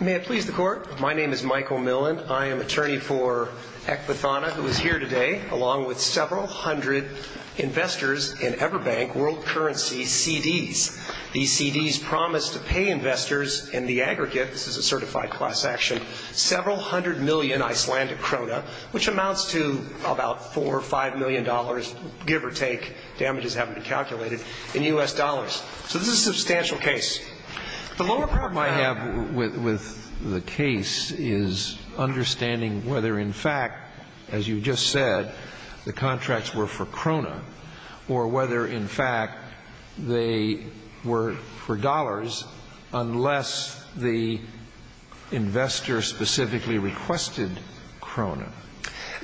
May it please the court, my name is Michael Milland. I am attorney for Ek Vathana, who is here today, along with several hundred investors in EverBank World Currency CDs. These CDs promise to pay investors in the aggregate, this is a certified class action, several hundred million Icelandic krona, which amounts to about four or five million dollars, give or take, damages haven't been calculated, in U.S. dollars. So this is a substantial case. The lower problem I have with the case is understanding whether in fact, as you just said, the contracts were for krona, or whether in fact they were for dollars, unless the investor specifically requested krona.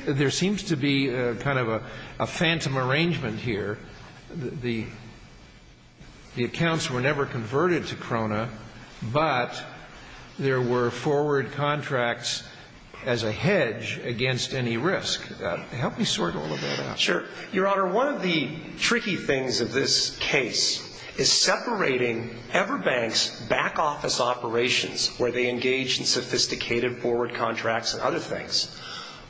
There seems to be kind of a phantom arrangement here. The accounts were never converted to krona, but there were forward contracts as a hedge against any risk. Help me sort all of that out. Sure. Your Honor, one of the tricky things of this case is separating EverBank's back office operations, where they engage in sophisticated forward contracts and other things,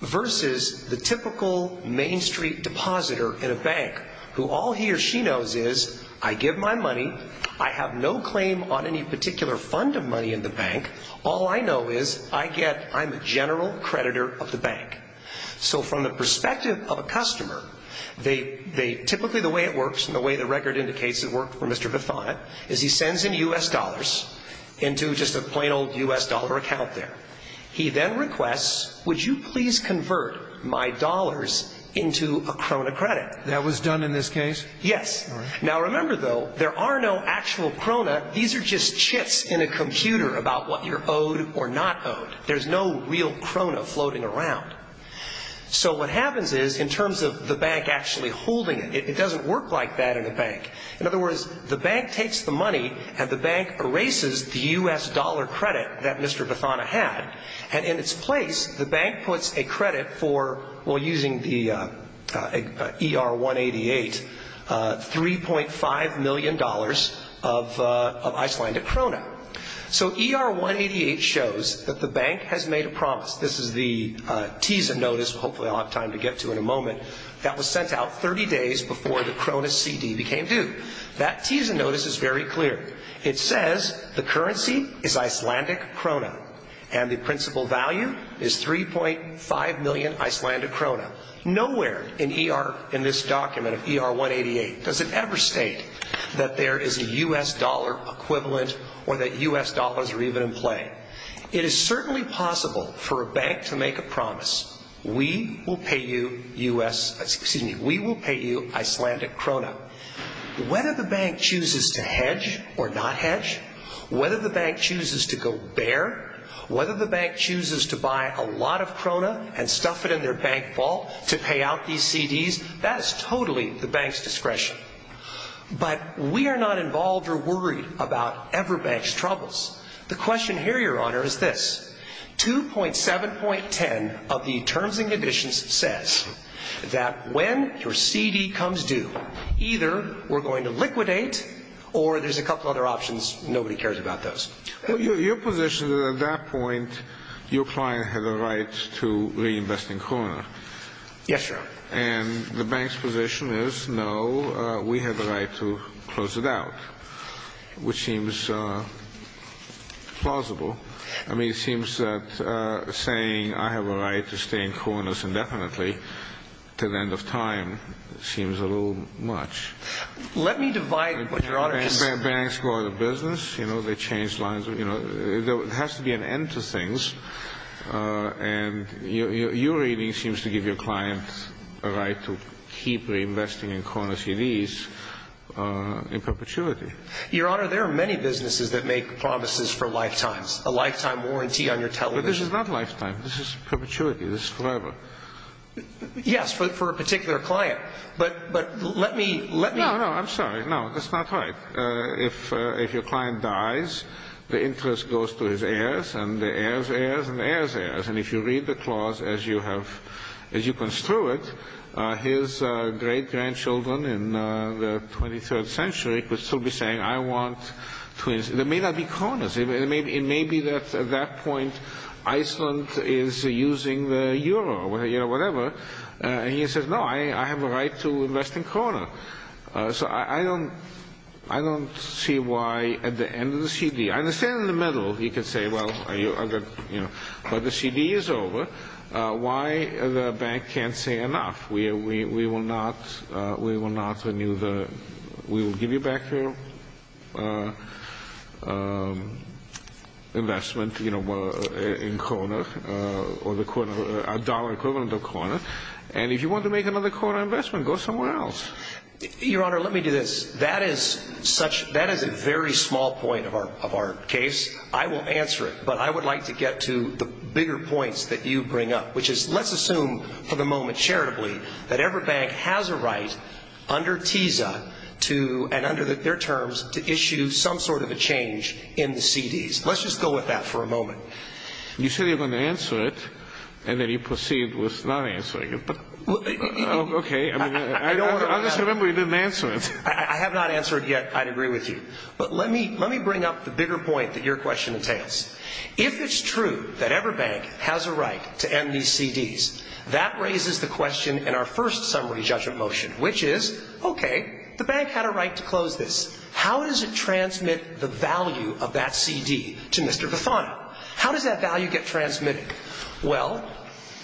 versus the typical main street depositor in a bank, who all he or she knows is, I give my money, I have no claim on any particular fund of money in the bank, all I know is, I get, I'm a general creditor of the bank. So from the perspective of a customer, they, they, typically the way it works, and the way the record indicates it worked for Mr. Bethon, is he sends in U.S. dollars into just a plain old U.S. dollar account there. He then requests, would you please convert my dollars into a krona credit? That was done in this case? Yes. All right. Now remember, though, there are no actual krona. These are just chits in a computer about what you're owed or not owed. There's no real krona floating around. So what happens is, in terms of the bank actually holding it, it doesn't work like that in a bank. In other words, the bank takes the money and the bank erases the U.S. dollar credit that Mr. Bethon had, and in its place, the bank puts a credit for, well, using the ER-188, $3.5 million of Icelandic krona. So ER-188 shows that the bank has made a promise. This is the teaser notice, which hopefully I'll have time to get to in a moment, that was sent out 30 days before the krona CD became due. That teaser notice is very clear. It says the currency is Icelandic krona, and the principal value is 3.5 million Icelandic krona. Nowhere in this document of ER-188 does it ever state that there is a U.S. dollar equivalent or that U.S. dollars are even in play. It is certainly possible for a bank to make a promise, we will pay you Icelandic krona. Whether the bank chooses to hedge or not hedge, whether the bank chooses to go bare, whether the bank chooses to buy a lot of krona and stuff it in their bank vault to pay out these CDs, that is totally the bank's discretion. But we are not involved or worried about Everbank's troubles. The question here, Your Honor, is this. 2.7.10 of the terms and conditions says that when your CD comes due, either we're going to liquidate or there's a couple other options. Nobody cares about those. Well, your position is at that point your client has a right to reinvest in krona. Yes, Your Honor. And the bank's position is no, we have the right to close it out, which seems plausible. I mean, it seems that saying I have a right to stay in kronas indefinitely to the end of time seems a little much. Let me divide what Your Honor can say. Banks go out of business. They change lines. There has to be an end to things. And your reading seems to give your client a right to keep reinvesting in krona CDs in perpetuity. Your Honor, there are many businesses that make promises for lifetimes, a lifetime warranty on your television. But this is not lifetime. This is perpetuity. This is forever. Yes, for a particular client. But let me. No, no, I'm sorry. No, that's not right. If your client dies, the interest goes to his heirs and the heirs' heirs and the heirs' heirs. And if you read the clause as you have, as you construe it, his great-grandchildren in the 23rd century could still be saying, I want to, there may not be kronas. It may be that at that point Iceland is using the euro or whatever. And he says, no, I have a right to invest in krona. So I don't see why at the end of the CD. I understand in the middle he could say, well, but the CD is over. Why the bank can't say enough? We will not renew the, we will give you back your investment in krona or the dollar equivalent of krona. And if you want to make another krona investment, go somewhere else. Your Honor, let me do this. That is such, that is a very small point of our case. I will answer it, but I would like to get to the bigger points that you bring up, which is let's assume for the moment charitably that every bank has a right under TISA to, and under their terms, to issue some sort of a change in the CDs. Let's just go with that for a moment. You said you were going to answer it, and then you proceed with not answering it. Okay. I just remember you didn't answer it. I have not answered it yet, I agree with you. But let me bring up the bigger point that your question entails. If it's true that every bank has a right to end these CDs, that raises the question in our first summary judgment motion, which is, okay, the bank had a right to close this. How does it transmit the value of that CD to Mr. Vifano? How does that value get transmitted? Well,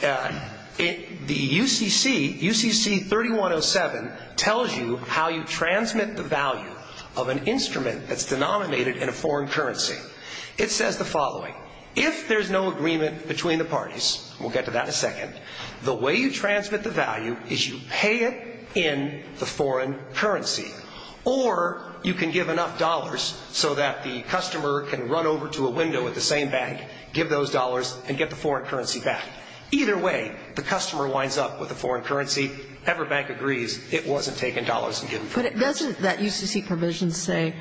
the UCC, UCC 3107, tells you how you transmit the value of an instrument that's denominated in a foreign currency. It says the following. If there's no agreement between the parties, we'll get to that in a second, the way you transmit the value is you pay it in the foreign currency, or you can give enough dollars so that the customer can run over to a window at the same bank, give those dollars, and get the foreign currency back. Either way, the customer winds up with a foreign currency. Every bank agrees it wasn't taken dollars and given foreign currency. But doesn't that UCC provision say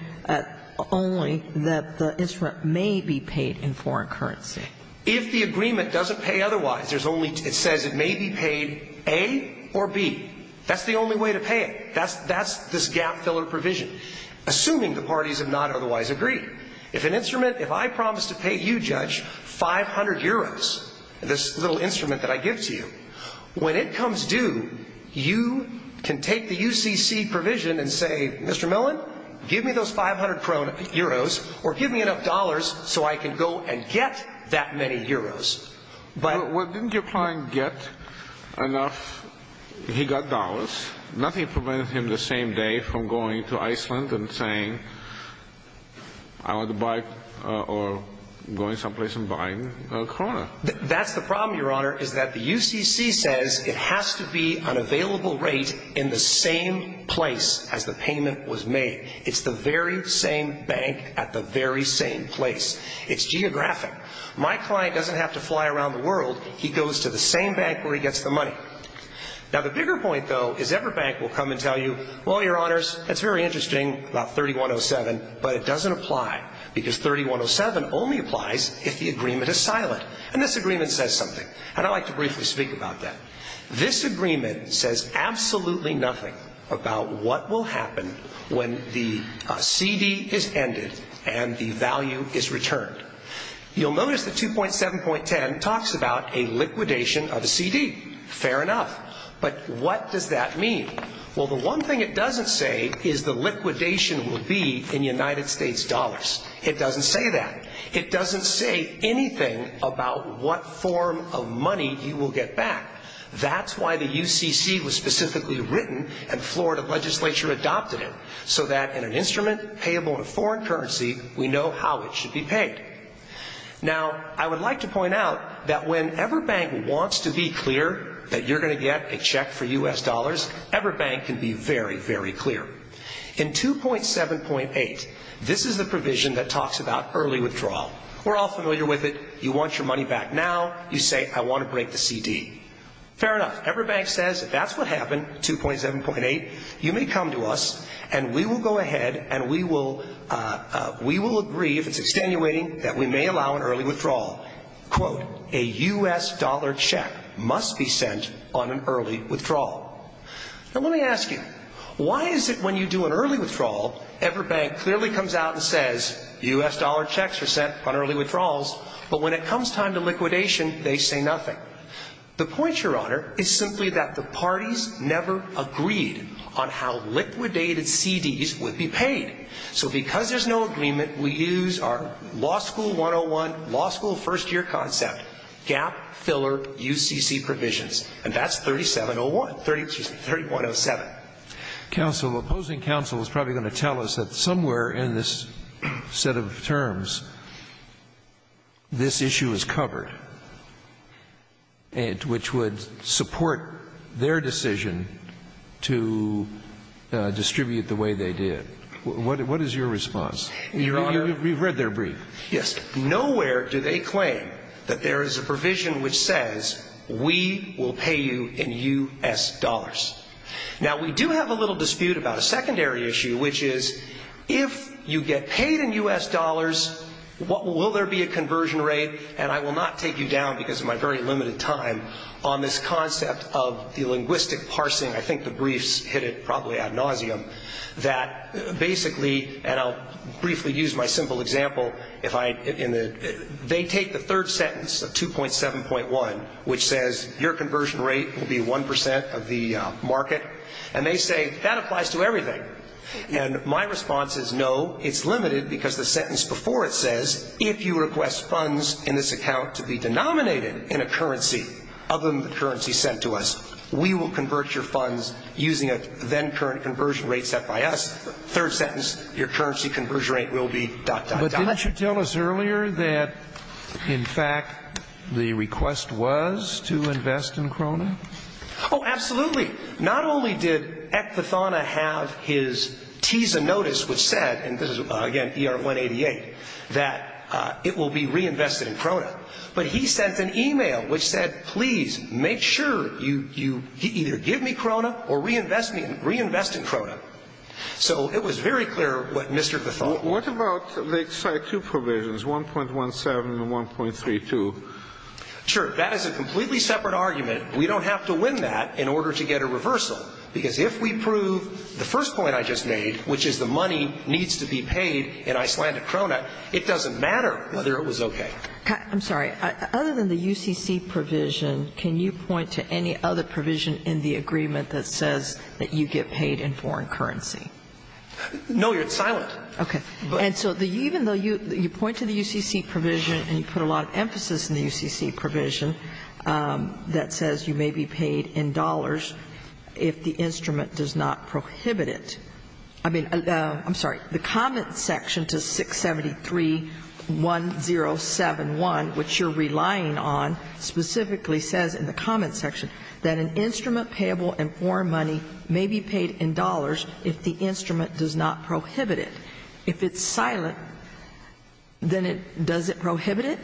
only that the instrument may be paid in foreign currency? If the agreement doesn't pay otherwise, there's only – it says it may be paid A or B. That's the only way to pay it. That's this gap-filler provision, assuming the parties have not otherwise agreed. If an instrument – if I promise to pay you, Judge, 500 euros, this little instrument that I give to you, when it comes due, you can take the UCC provision and say, Mr. Millen, give me those 500 euros or give me enough dollars so I can go and get that many euros. Well, didn't your client get enough – he got dollars. Nothing prevented him the same day from going to Iceland and saying, I want to buy – or going someplace and buying Corona. That's the problem, Your Honor, is that the UCC says it has to be an available rate in the same place as the payment was made. It's the very same bank at the very same place. It's geographic. My client doesn't have to fly around the world. He goes to the same bank where he gets the money. Now, the bigger point, though, is every bank will come and tell you, well, Your Honors, that's very interesting about 3107, but it doesn't apply because 3107 only applies if the agreement is silent. And this agreement says something, and I'd like to briefly speak about that. This agreement says absolutely nothing about what will happen when the CD is ended and the value is returned. You'll notice that 2.7.10 talks about a liquidation of a CD. Fair enough. But what does that mean? Well, the one thing it doesn't say is the liquidation will be in United States dollars. It doesn't say that. It doesn't say anything about what form of money you will get back. That's why the UCC was specifically written and Florida legislature adopted it, so that in an instrument payable in a foreign currency, we know how it should be paid. Now, I would like to point out that when every bank wants to be clear that you're going to get a check for U.S. dollars, every bank can be very, very clear. In 2.7.8, this is the provision that talks about early withdrawal. We're all familiar with it. You want your money back now. You say, I want to break the CD. Fair enough. Every bank says if that's what happened, 2.7.8, you may come to us, and we will go ahead and we will agree, if it's extenuating, that we may allow an early withdrawal. Quote, a U.S. dollar check must be sent on an early withdrawal. Now, let me ask you, why is it when you do an early withdrawal, every bank clearly comes out and says U.S. dollar checks are sent on early withdrawals, but when it comes time to liquidation, they say nothing? The point, Your Honor, is simply that the parties never agreed on how liquidated CDs would be paid. So because there's no agreement, we use our law school 101, law school first-year concept, gap filler UCC provisions, and that's 3701, excuse me, 3.07. Counsel, opposing counsel is probably going to tell us that somewhere in this set of terms, this issue is covered, which would support their decision to distribute the way they did. What is your response? Your Honor. You've read their brief. Yes. Nowhere do they claim that there is a provision which says we will pay you in U.S. dollars. Now, we do have a little dispute about a secondary issue, which is if you get paid in U.S. dollars, will there be a conversion rate, and I will not take you down because of my very limited time, on this concept of the linguistic parsing. I think the briefs hit it probably ad nauseum that basically, and I'll briefly use my simple example. They take the third sentence of 2.7.1, which says your conversion rate will be 1% of the market, and they say that applies to everything. And my response is no, it's limited because the sentence before it says, if you request funds in this account to be denominated in a currency other than the currency sent to us, we will convert your funds using a then-current conversion rate set by us. Third sentence, your currency conversion rate will be dot, dot, dot. But didn't you tell us earlier that, in fact, the request was to invest in Krona? Oh, absolutely. Not only did Eck Pathana have his TISA notice which said, and this is, again, ER-188, that it will be reinvested in Krona, but he sent an e-mail which said, please make sure you either give me Krona or reinvest in Krona. So it was very clear what Mr. Pathana. What about Lake Side 2 provisions, 1.17 and 1.32? Sure. That is a completely separate argument. We don't have to win that in order to get a reversal, because if we prove the first point I just made, which is the money needs to be paid in Icelandic Krona, it doesn't matter whether it was okay. I'm sorry. Other than the UCC provision, can you point to any other provision in the agreement that says that you get paid in foreign currency? No. It's weird. It's silent. Okay. And so even though you point to the UCC provision and you put a lot of emphasis in the UCC provision that says you may be paid in dollars if the instrument does not prohibit it, I mean, I'm sorry. The comment section to 673-1071, which you're relying on, specifically says in the comment section that an instrument payable in foreign money may be paid in dollars if the instrument does not prohibit it. If it's silent, then it doesn't prohibit it?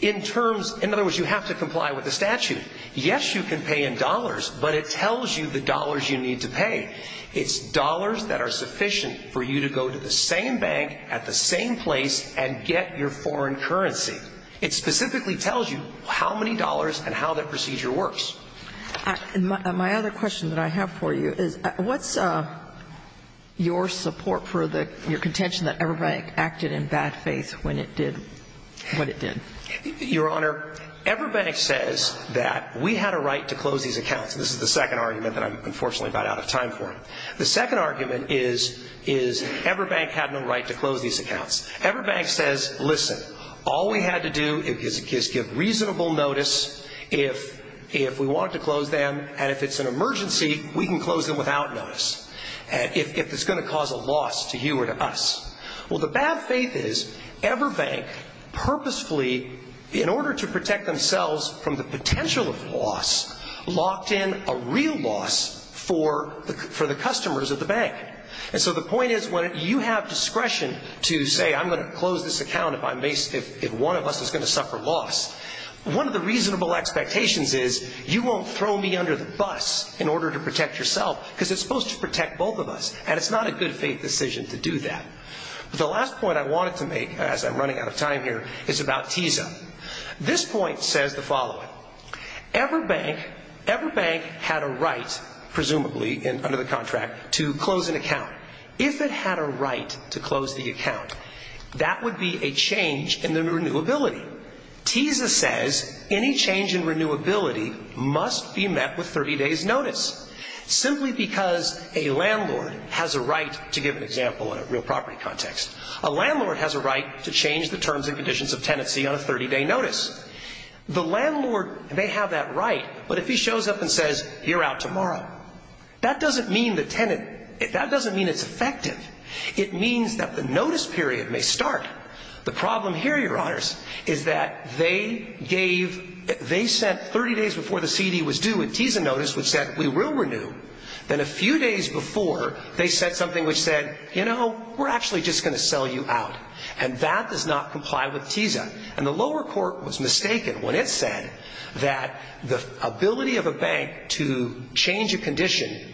In terms of other words, you have to comply with the statute. Yes, you can pay in dollars, but it tells you the dollars you need to pay. It's dollars that are sufficient for you to go to the same bank at the same place and get your foreign currency. It specifically tells you how many dollars and how that procedure works. My other question that I have for you is what's your support for your contention that Everbank acted in bad faith when it did what it did? Your Honor, Everbank says that we had a right to close these accounts. This is the second argument that I'm unfortunately about out of time for. The second argument is Everbank had no right to close these accounts. Everbank says, listen, all we had to do is give reasonable notice. If we wanted to close them and if it's an emergency, we can close them without notice if it's going to cause a loss to you or to us. Well, the bad faith is Everbank purposefully, in order to protect themselves from the potential of loss, locked in a real loss for the customers at the bank. And so the point is when you have discretion to say I'm going to close this account if one of us is going to suffer loss, one of the reasonable expectations is you won't throw me under the bus in order to protect yourself because it's supposed to protect both of us. And it's not a good faith decision to do that. The last point I wanted to make as I'm running out of time here is about TISA. This point says the following. Everbank had a right, presumably under the contract, to close an account. If it had a right to close the account, that would be a change in the renewability. TISA says any change in renewability must be met with 30 days notice simply because a landlord has a right, to give an example in a real property context, a landlord has a right to change the terms and conditions of tenancy on a 30-day notice. The landlord may have that right, but if he shows up and says you're out tomorrow, that doesn't mean it's effective. It means that the notice period may start. The problem here, Your Honors, is that they gave, they said 30 days before the CD was due a TISA notice which said we will renew. Then a few days before they said something which said, you know, we're actually just going to sell you out. And that does not comply with TISA.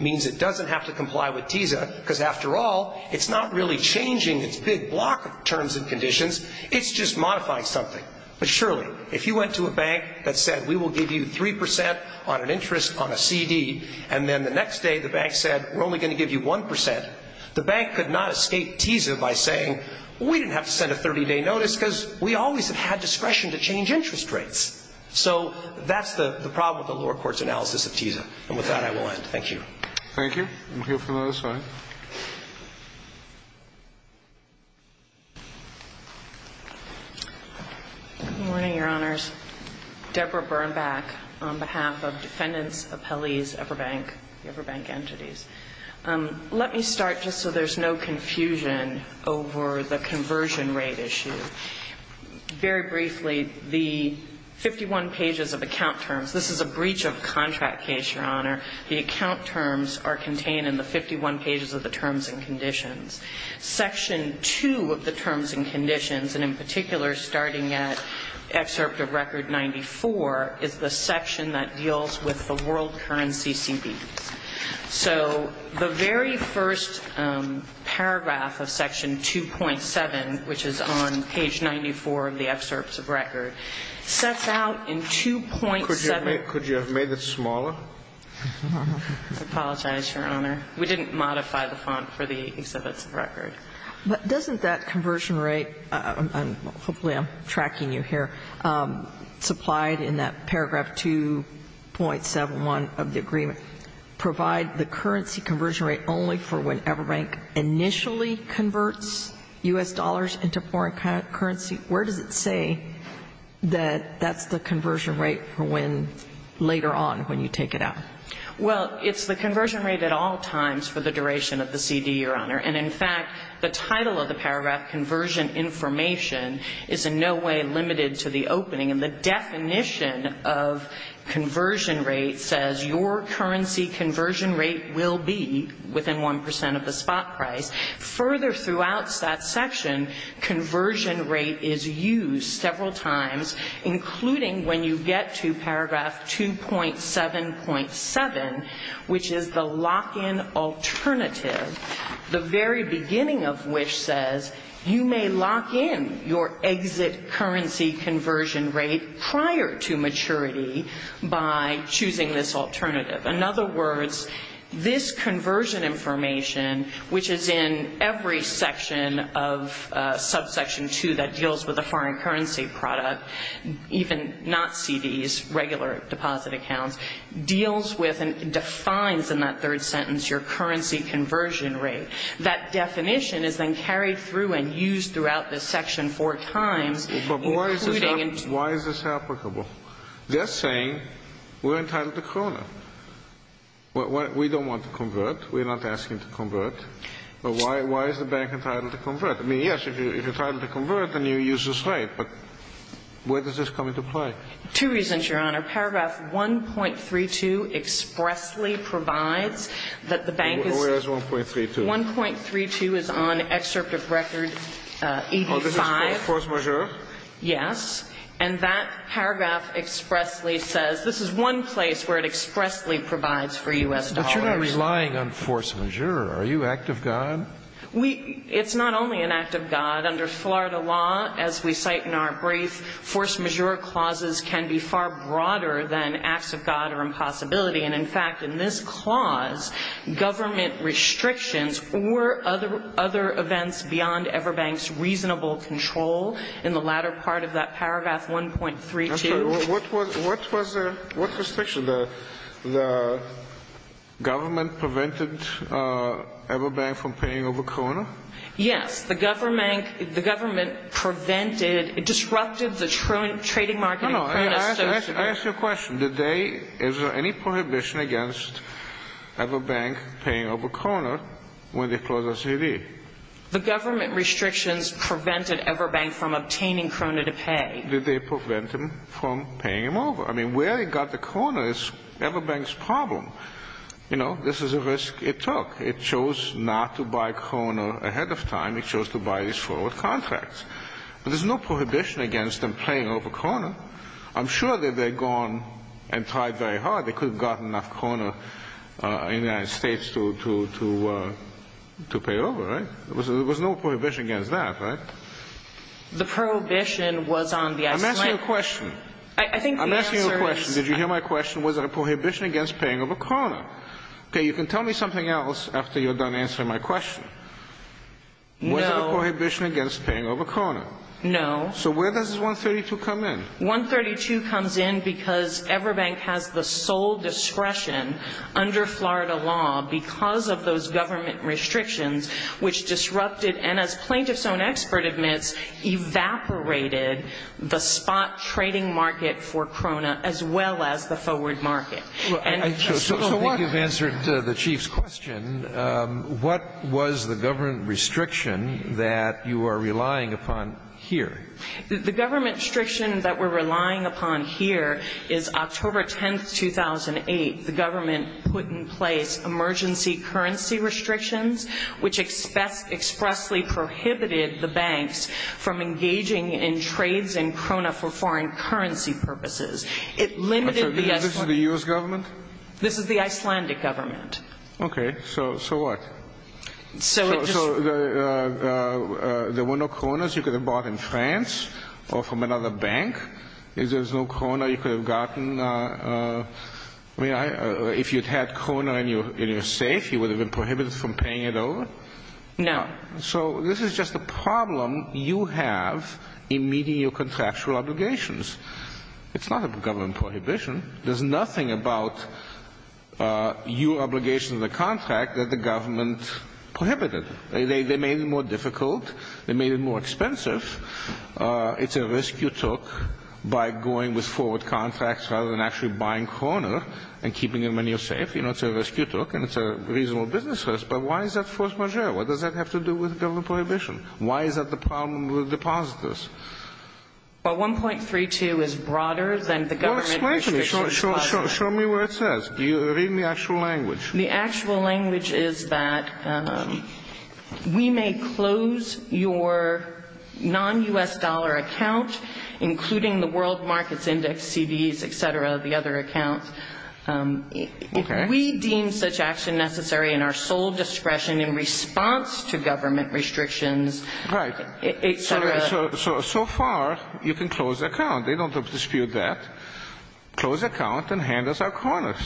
means it doesn't have to comply with TISA because, after all, it's not really changing its big block of terms and conditions. It's just modifying something. But surely if you went to a bank that said we will give you 3% on an interest on a CD and then the next day the bank said we're only going to give you 1%, the bank could not escape TISA by saying we didn't have to send a 30-day notice because we always have had discretion to change interest rates. So that's the problem with the lower court's analysis of TISA. And with that, I will end. Thank you. Thank you. I'm here for the last time. Good morning, Your Honors. Deborah Birnbach on behalf of defendants, appellees, upper bank, the upper bank entities. Let me start just so there's no confusion over the conversion rate issue. Very briefly, the 51 pages of account terms. This is a breach of contract case, Your Honor. The account terms are contained in the 51 pages of the terms and conditions. Section 2 of the terms and conditions, and in particular starting at excerpt of Record 94, is the section that deals with the world currency CDs. So the very first paragraph of section 2.7, which is on page 94 of the excerpts of Record, sets out in 2.7. Could you have made it smaller? I apologize, Your Honor. We didn't modify the font for the exhibits of Record. But doesn't that conversion rate, and hopefully I'm tracking you here, supplied in that paragraph 2.71 of the agreement, provide the currency conversion rate only for when upper bank initially converts U.S. dollars into foreign currency? Where does it say that that's the conversion rate for when later on when you take it out? Well, it's the conversion rate at all times for the duration of the CD, Your Honor. And, in fact, the title of the paragraph, Conversion Information, is in no way limited to the opening. And the definition of conversion rate says, Your currency conversion rate will be within 1% of the spot price. Further throughout that section, conversion rate is used several times, including when you get to paragraph 2.7.7, which is the lock-in alternative, the very beginning of which says, You may lock in your exit currency conversion rate prior to maturity by choosing this alternative. In other words, this conversion information, which is in every section of subsection 2 that deals with a foreign currency product, even not CDs, regular deposit accounts, deals with and defines in that third sentence your currency conversion rate. That definition is then carried through and used throughout this section four times. But why is this applicable? They're saying we're entitled to Kroner. We don't want to convert. We're not asking to convert. But why is the bank entitled to convert? I mean, yes, if you're entitled to convert, then you use this right. But where does this come into play? Two reasons, Your Honor. Paragraph 1.32 expressly provides that the bank is ---- Where is 1.32? 1.32 is on Excerpt of Record 85. Oh, this is Force Majeure? Yes. And that paragraph expressly says this is one place where it expressly provides for U.S. dollars. But you're not relying on Force Majeure. We ---- it's not only an act of God. But under Florida law, as we cite in our brief, Force Majeure clauses can be far broader than acts of God or impossibility. And, in fact, in this clause, government restrictions or other events beyond Everbank's reasonable control in the latter part of that paragraph 1.32 ---- I'm sorry. What was the ---- what restriction? The government prevented Everbank from paying over Kroner? Yes. The government prevented ---- it disrupted the trading market in Kroner. No, no. I ask you a question. Did they ---- is there any prohibition against Everbank paying over Kroner when they closed the CD? The government restrictions prevented Everbank from obtaining Kroner to pay. Did they prevent them from paying him over? I mean, where it got to Kroner is Everbank's problem. You know, this is a risk it took. It chose not to buy Kroner ahead of time. It chose to buy these forward contracts. There's no prohibition against them paying over Kroner. I'm sure that they've gone and tried very hard. They could have gotten enough Kroner in the United States to pay over, right? There was no prohibition against that, right? The prohibition was on the ---- I'm asking you a question. I think the answer is ---- I'm asking you a question. Did you hear my question? Was there a prohibition against paying over Kroner? Okay, you can tell me something else after you're done answering my question. No. Was there a prohibition against paying over Kroner? No. So where does 132 come in? 132 comes in because Everbank has the sole discretion under Florida law because of those government restrictions which disrupted and, as Plaintiff's Own Expert admits, evaporated the spot trading market for Kroner as well as the forward market. So I think you've answered the Chief's question. What was the government restriction that you are relying upon here? The government restriction that we're relying upon here is October 10, 2008, the government put in place emergency currency restrictions which expressly prohibited the banks from engaging in trades in Kroner for foreign currency purposes. It limited the ---- This is the U.S. government? This is the Icelandic government. Okay. So what? So it just ---- So there were no Kroners you could have bought in France or from another bank? Is there no Kroner you could have gotten? I mean, if you'd had Kroner in your safe, you would have been prohibited from paying it over? No. So this is just a problem you have in meeting your contractual obligations. It's not a government prohibition. There's nothing about your obligation to the contract that the government prohibited. They made it more difficult. They made it more expensive. It's a risk you took by going with forward contracts rather than actually buying Kroner and keeping them in your safe. You know, it's a risk you took, and it's a reasonable business risk. But why is that a first measure? What does that have to do with government prohibition? Why is that the problem with depositors? Well, 1.32 is broader than the government restrictions. Well, explain to me. Show me what it says. Read me the actual language. The actual language is that we may close your non-U.S. dollar account, including the world markets index, CDs, et cetera, the other accounts. Okay. We deem such action necessary in our sole discretion in response to government restrictions, et cetera. So far, you can close the account. They don't dispute that. Close account and hand us our Kroners.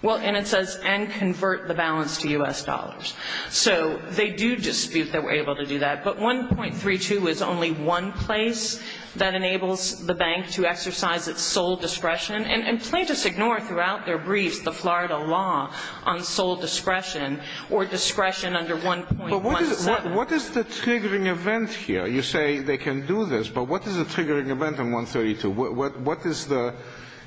Well, and it says, and convert the balance to U.S. dollars. So they do dispute that we're able to do that. But 1.32 is only one place that enables the bank to exercise its sole discretion, and plaintiffs ignore throughout their briefs the Florida law on sole discretion or discretion under 1.17. But what is the triggering event here? You say they can do this, but what is the triggering event in 1.32? What is the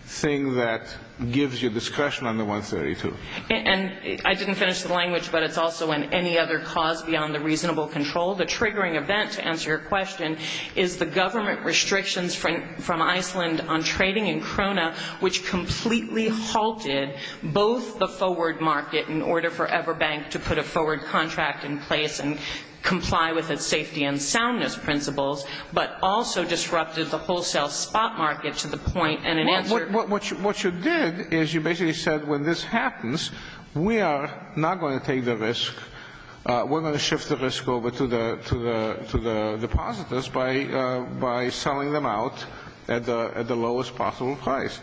thing that gives you discretion under 1.32? And I didn't finish the language, but it's also in any other cause beyond the reasonable control. The triggering event, to answer your question, is the government restrictions from Iceland on trading in Krona, which completely halted both the forward market in order for Everbank to put a forward contract in place and comply with its safety and soundness principles, but also disrupted the wholesale spot market to the point. And in answer to your question. What you did is you basically said when this happens, we are not going to take the risk. We're going to shift the risk over to the depositors by selling them out at the lowest possible price.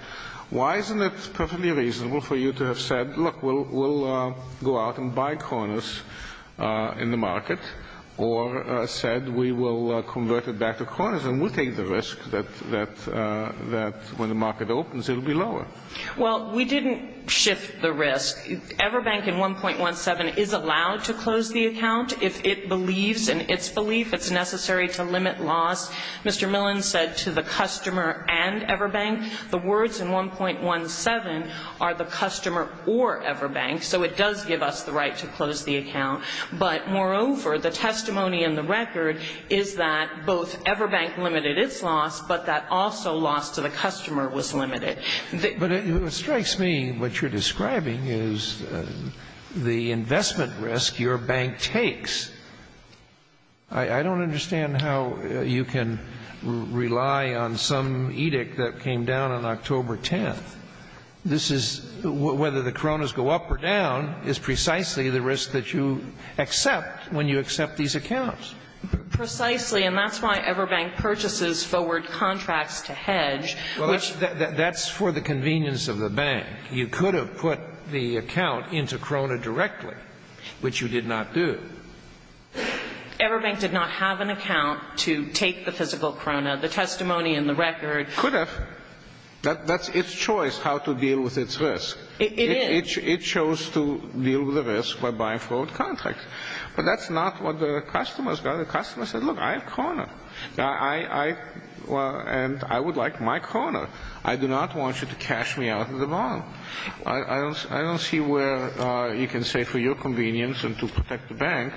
Why isn't it perfectly reasonable for you to have said, look, we'll go out and buy Kronas in the market, or said we will convert it back to Kronas and we'll take the risk that when the market opens it will be lower? Well, we didn't shift the risk. Everbank in 1.17 is allowed to close the account if it believes in its belief it's necessary to limit loss. Mr. Millen said to the customer and Everbank, the words in 1.17 are the customer or Everbank. So it does give us the right to close the account. But moreover, the testimony in the record is that both Everbank limited its loss, but that also loss to the customer was limited. But it strikes me what you're describing is the investment risk your bank takes. I don't understand how you can rely on some edict that came down on October 10th. This is whether the Kronas go up or down is precisely the risk that you accept when you accept these accounts. Precisely, and that's why Everbank purchases forward contracts to hedge. Well, that's for the convenience of the bank. You could have put the account into Krona directly, which you did not do. Everbank did not have an account to take the physical Krona, the testimony in the record. Could have. That's its choice how to deal with its risk. It is. It chose to deal with the risk by buying forward contracts. But that's not what the customers got. The customer said, look, I have Krona, and I would like my Krona. I do not want you to cash me out of the bond. I don't see where you can say for your convenience and to protect the bank,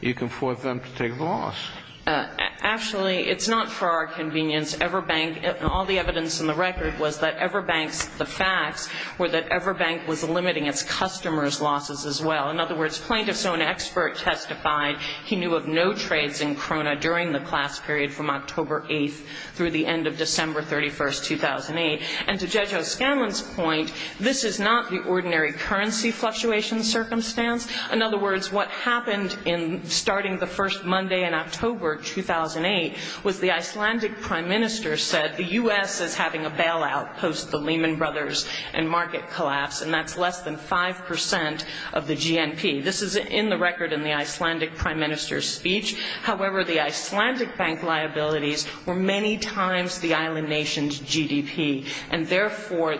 you can force them to take the loss. Actually, it's not for our convenience. Everbank, all the evidence in the record was that Everbank's facts were that Everbank was limiting its customers' losses as well. In other words, plaintiffs' own expert testified he knew of no trades in Krona during the class period from October 8th through the end of December 31st, 2008. And to Jejo Scanlon's point, this is not the ordinary currency fluctuation circumstance. In other words, what happened in starting the first Monday in October 2008 was the Icelandic prime minister said the U.S. is having a bailout post the Lehman Brothers and market collapse, and that's less than 5 percent of the GNP. This is in the record in the Icelandic prime minister's speech. However, the Icelandic bank liabilities were many times the island nation's GDP. And therefore,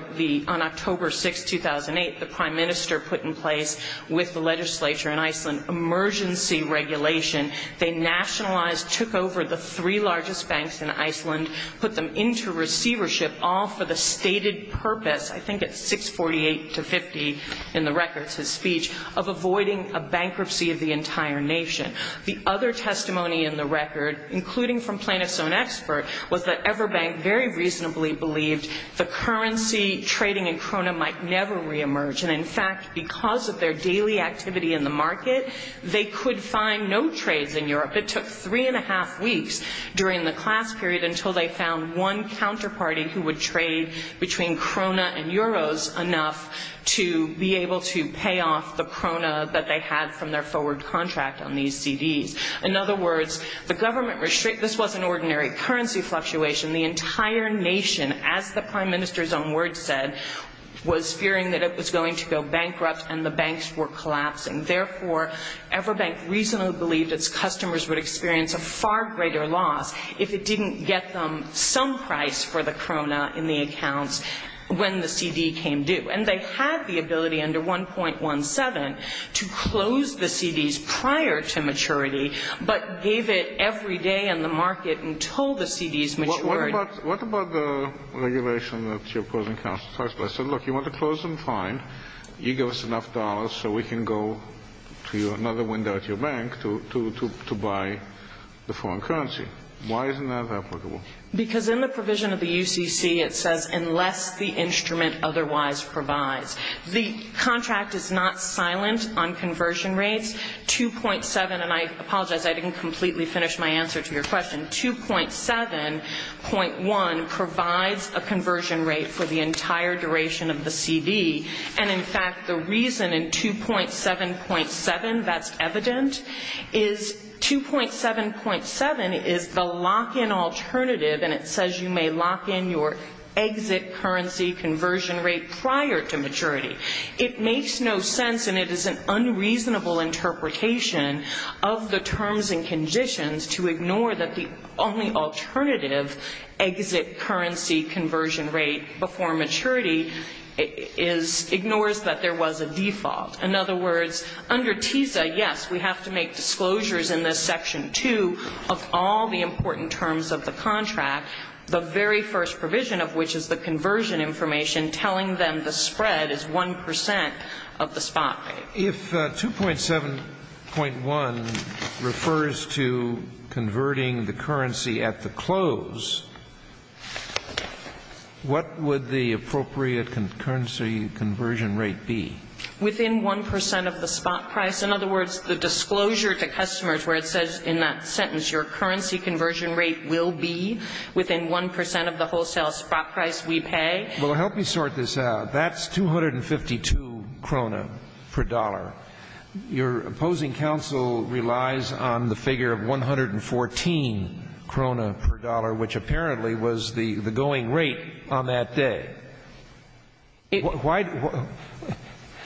on October 6th, 2008, the prime minister put in place with the legislature in Iceland emergency regulation. They nationalized, took over the three largest banks in Iceland, put them into receivership all for the stated purpose, I think it's 648 to 50 in the record's speech, of avoiding a bankruptcy of the entire nation. The other testimony in the record, including from plaintiffs' own expert, was that Everbank very reasonably believed the currency trading in Krona might never reemerge. And in fact, because of their daily activity in the market, they could find no trades in Europe. It took three and a half weeks during the class period until they found one counterparty who would trade between Krona and Euros enough to be able to pay off the Krona that they had from their forward contract on these CDs. In other words, the government restrict, this wasn't ordinary currency fluctuation. The entire nation, as the prime minister's own words said, was fearing that it was going to go bankrupt and the banks were collapsing. Therefore, Everbank reasonably believed its customers would experience a far greater loss if it didn't get them some price for the Krona in the accounts when the CD came due. And they had the ability, under 1.17, to close the CDs prior to maturity, but gave it every day in the market until the CDs matured. What about the regulation that you're opposing, Counselor Teichberg? I said, look, you want to close them? Fine. You give us enough dollars so we can go to another window at your bank to buy the foreign currency. Why isn't that applicable? Because in the provision of the UCC, it says, unless the instrument otherwise provides. The contract is not silent on conversion rates. 2.7, and I apologize, I didn't completely finish my answer to your question. 2.7.1 provides a conversion rate for the entire duration of the CD. And, in fact, the reason in 2.7.7 that's evident is 2.7.7 is the lock-in alternative, and it says you may lock in your exit currency conversion rate prior to maturity. It makes no sense, and it is an unreasonable interpretation of the terms and conditions to ignore that the only alternative exit currency conversion rate before maturity ignores that there was a default. In other words, under TISA, yes, we have to make disclosures in this Section 2 of all the important terms of the contract, the very first provision of which is the conversion information telling them the spread is 1 percent of the spot rate. If 2.7.1 refers to converting the currency at the close, what would the appropriate currency conversion rate be? Within 1 percent of the spot price. In other words, the disclosure to customers where it says in that sentence your currency conversion rate will be within 1 percent of the wholesale spot price we pay. Well, help me sort this out. That's 252 krona per dollar. Your opposing counsel relies on the figure of 114 krona per dollar, which apparently was the going rate on that day.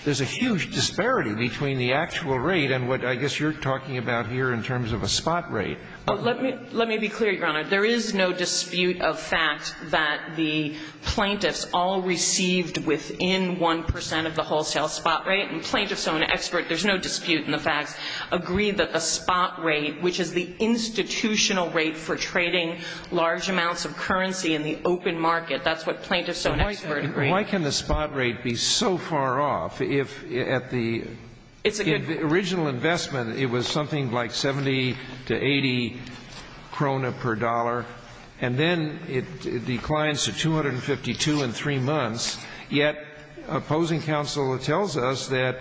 There's a huge disparity between the actual rate and what I guess you're talking about here in terms of a spot rate. Let me be clear, Your Honor. There is no dispute of fact that the plaintiffs all received within 1 percent of the wholesale spot rate. And plaintiffs own expert, there's no dispute in the facts, agree that the spot rate, which is the institutional rate for trading large amounts of currency in the open market, that's what plaintiffs own expert agreed. Why can the spot rate be so far off if at the original investment it was something like 70 to 80 krona per dollar, and then it declines to 252 in 3 months, yet opposing counsel tells us that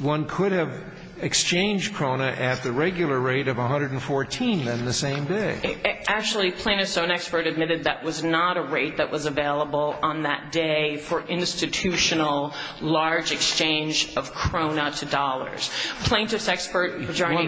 one could have exchanged krona at the regular rate of 114 in the same day. Actually, plaintiffs own expert admitted that was not a rate that was available on that day for institutional large exchange of krona to dollars.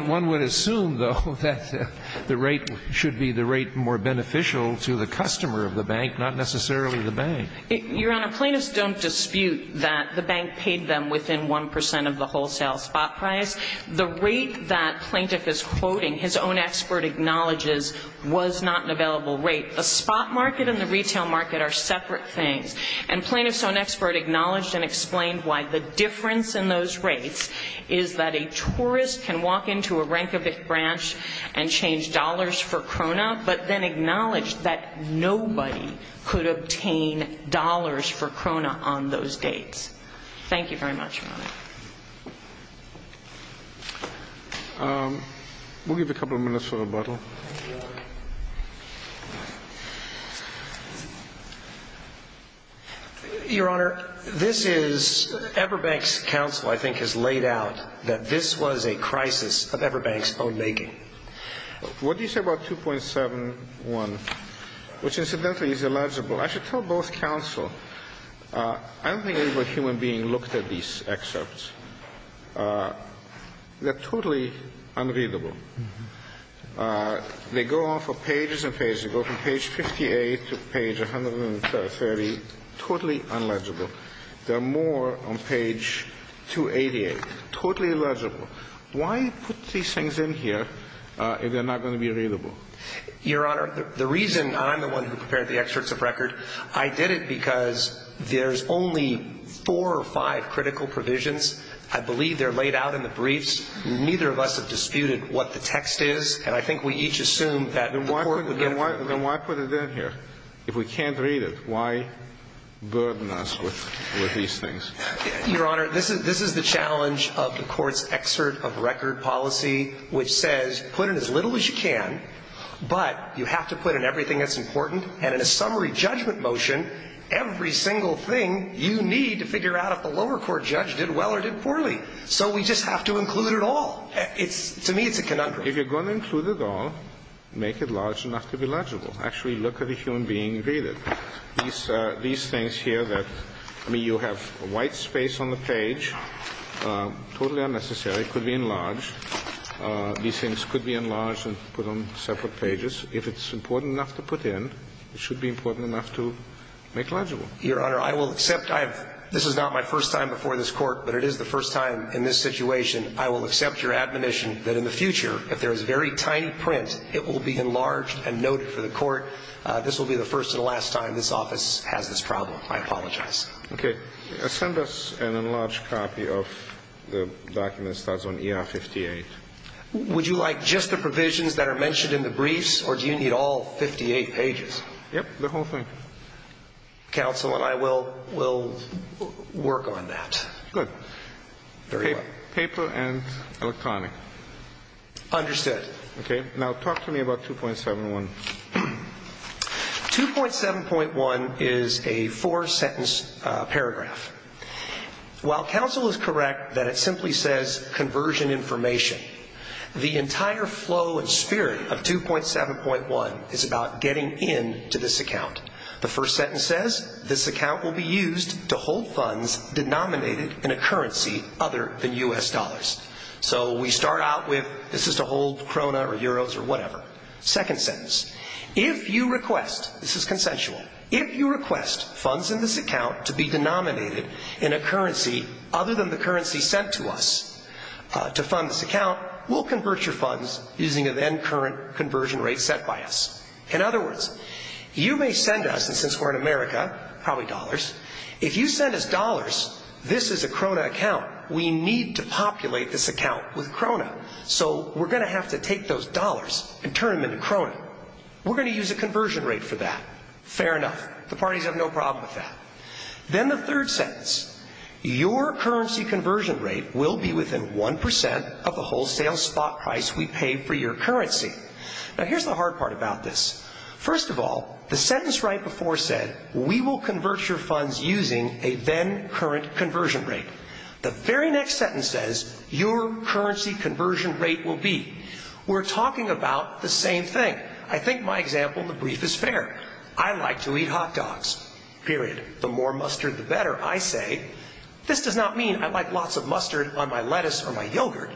One would assume, though, that the rate should be the rate more beneficial to the customer of the bank, not necessarily the bank. Your Honor, plaintiffs don't dispute that the bank paid them within 1 percent of the wholesale spot price. The rate that plaintiff is quoting, his own expert acknowledges, was not an available rate. The spot market and the retail market are separate things. And plaintiffs own expert acknowledged and explained why the difference in those rates is that a tourist can walk into a Reykjavik branch and change dollars for krona, but then acknowledge that nobody could obtain dollars for krona on those dates. Thank you very much, Your Honor. We'll give a couple of minutes for rebuttal. Your Honor, this is, Everbank's counsel, I think, has laid out that this was a crisis of Everbank's own making. What do you say about 2.71, which, incidentally, is illegible? I should tell both counsel. I don't think any human being looked at these excerpts. They're totally unreadable. They go on for pages and pages. They go from page 58 to page 130, totally unreadable. There are more on page 288, totally illegible. Why put these things in here if they're not going to be readable? Your Honor, the reason I'm the one who prepared the excerpts of record, I did it because there's only four or five critical provisions. I believe they're laid out in the briefs. Neither of us have disputed what the text is, and I think we each assumed that the Court would get it right. Then why put it in here? If we can't read it, why burden us with these things? Your Honor, this is the challenge of the Court's excerpt of record policy, which says put in as little as you can, but you have to put in everything that's important. And in a summary judgment motion, every single thing you need to figure out if the lower court judge did well or did poorly. So we just have to include it all. To me, it's a conundrum. If you're going to include it all, make it large enough to be legible. Actually, look at a human being and read it. These things here that you have white space on the page, totally unnecessary, could be enlarged. These things could be enlarged and put on separate pages. If it's important enough to put in, it should be important enough to make legible. Your Honor, I will accept. This is not my first time before this Court, but it is the first time in this situation I will accept your admonition that in the future, if there is very tiny print, it will be enlarged and noted for the Court. This will be the first and last time this office has this problem. I apologize. Okay. Send us an enlarged copy of the document that starts on ER 58. Would you like just the provisions that are mentioned in the briefs, or do you need all 58 pages? Yep, the whole thing. Counsel and I will work on that. Good. Paper and electronic. Understood. Okay. Now talk to me about 2.7.1. 2.7.1 is a four-sentence paragraph. While counsel is correct that it simply says, conversion information, the entire flow and spirit of 2.7.1 is about getting in to this account. The first sentence says, this account will be used to hold funds denominated in a currency other than U.S. dollars. So we start out with, this is to hold Krona or Euros or whatever. Second sentence, if you request, this is consensual, if you request funds in this account to be denominated in a currency other than the currency sent to us to fund this account, we'll convert your funds using a then current conversion rate set by us. In other words, you may send us, and since we're in America, probably dollars, if you send us dollars, this is a Krona account, we need to populate this account with Krona. So we're going to have to take those dollars and turn them into Krona. We're going to use a conversion rate for that. Fair enough. The parties have no problem with that. Then the third sentence, your currency conversion rate will be within 1% of the wholesale spot price we pay for your currency. Now here's the hard part about this. First of all, the sentence right before said, we will convert your funds using a then current conversion rate. The very next sentence says, your currency conversion rate will be. We're talking about the same thing. I think my example in the brief is fair. I like to eat hot dogs, period. The more mustard the better, I say. This does not mean I like lots of mustard on my lettuce or my yogurt.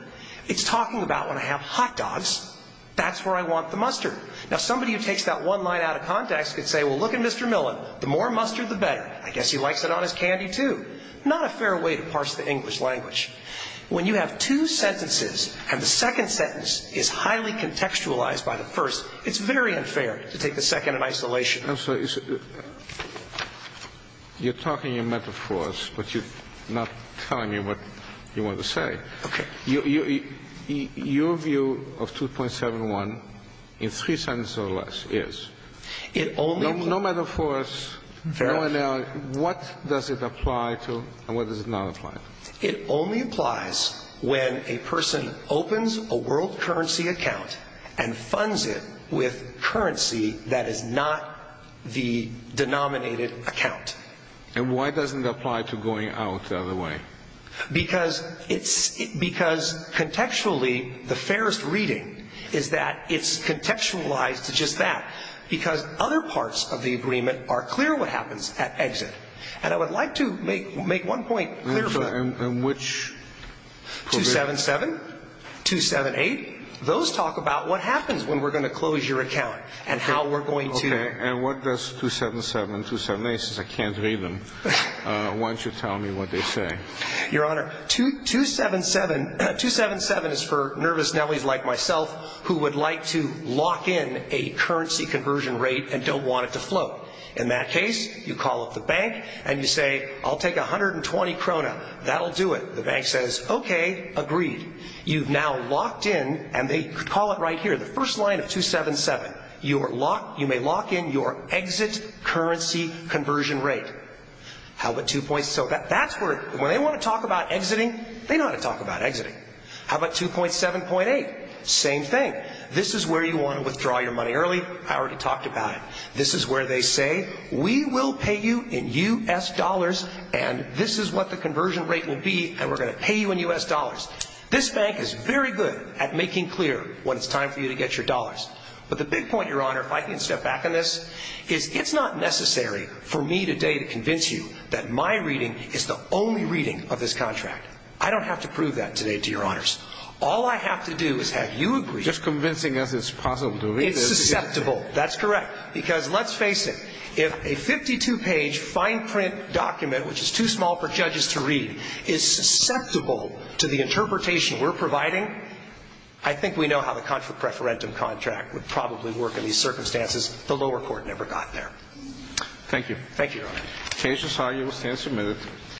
It's talking about when I have hot dogs, that's where I want the mustard. Now somebody who takes that one line out of context could say, well, look at Mr. Millen, the more mustard the better. I guess he likes it on his candy too. Not a fair way to parse the English language. When you have two sentences and the second sentence is highly contextualized by the first, it's very unfair to take the second in isolation. I'm sorry. You're talking in metaphors, but you're not telling me what you want to say. Okay. Your view of 2.71 in three sentences or less is. It only. No metaphors. Fair enough. What does it apply to and what does it not apply to? It only applies when a person opens a world currency account and funds it with currency that is not the denominated account. And why doesn't it apply to going out the other way? Because contextually the fairest reading is that it's contextualized to just that. Because other parts of the agreement are clear what happens at exit. And I would like to make one point clear. And which provision? 2.77, 2.78. Those talk about what happens when we're going to close your account and how we're going to. Okay. And what does 2.77 and 2.78 say? I can't read them. Why don't you tell me what they say? Your Honor, 2.77 is for nervous nevelies like myself who would like to lock in a currency conversion rate and don't want it to float. In that case, you call up the bank and you say, I'll take 120 krona. That'll do it. The bank says, okay, agreed. You've now locked in, and they call it right here, the first line of 2.77. You may lock in your exit currency conversion rate. How about 2.7? When they want to talk about exiting, they know how to talk about exiting. How about 2.7.8? Same thing. This is where you want to withdraw your money early. I already talked about it. This is where they say, we will pay you in U.S. dollars, and this is what the conversion rate will be, and we're going to pay you in U.S. dollars. This bank is very good at making clear when it's time for you to get your dollars. But the big point, Your Honor, if I can step back on this, is it's not necessary for me today to convince you that my reading is the only reading of this contract. I don't have to prove that today to Your Honors. All I have to do is have you agree. Just convincing us it's possible to read. It's susceptible. That's correct, because let's face it. If a 52-page fine print document, which is too small for judges to read, is susceptible to the interpretation we're providing, I think we know how the contra preferentum contract would probably work in these circumstances. The lower court never got there. Thank you. Thank you, Your Honor. The case is argued. The stand is removed.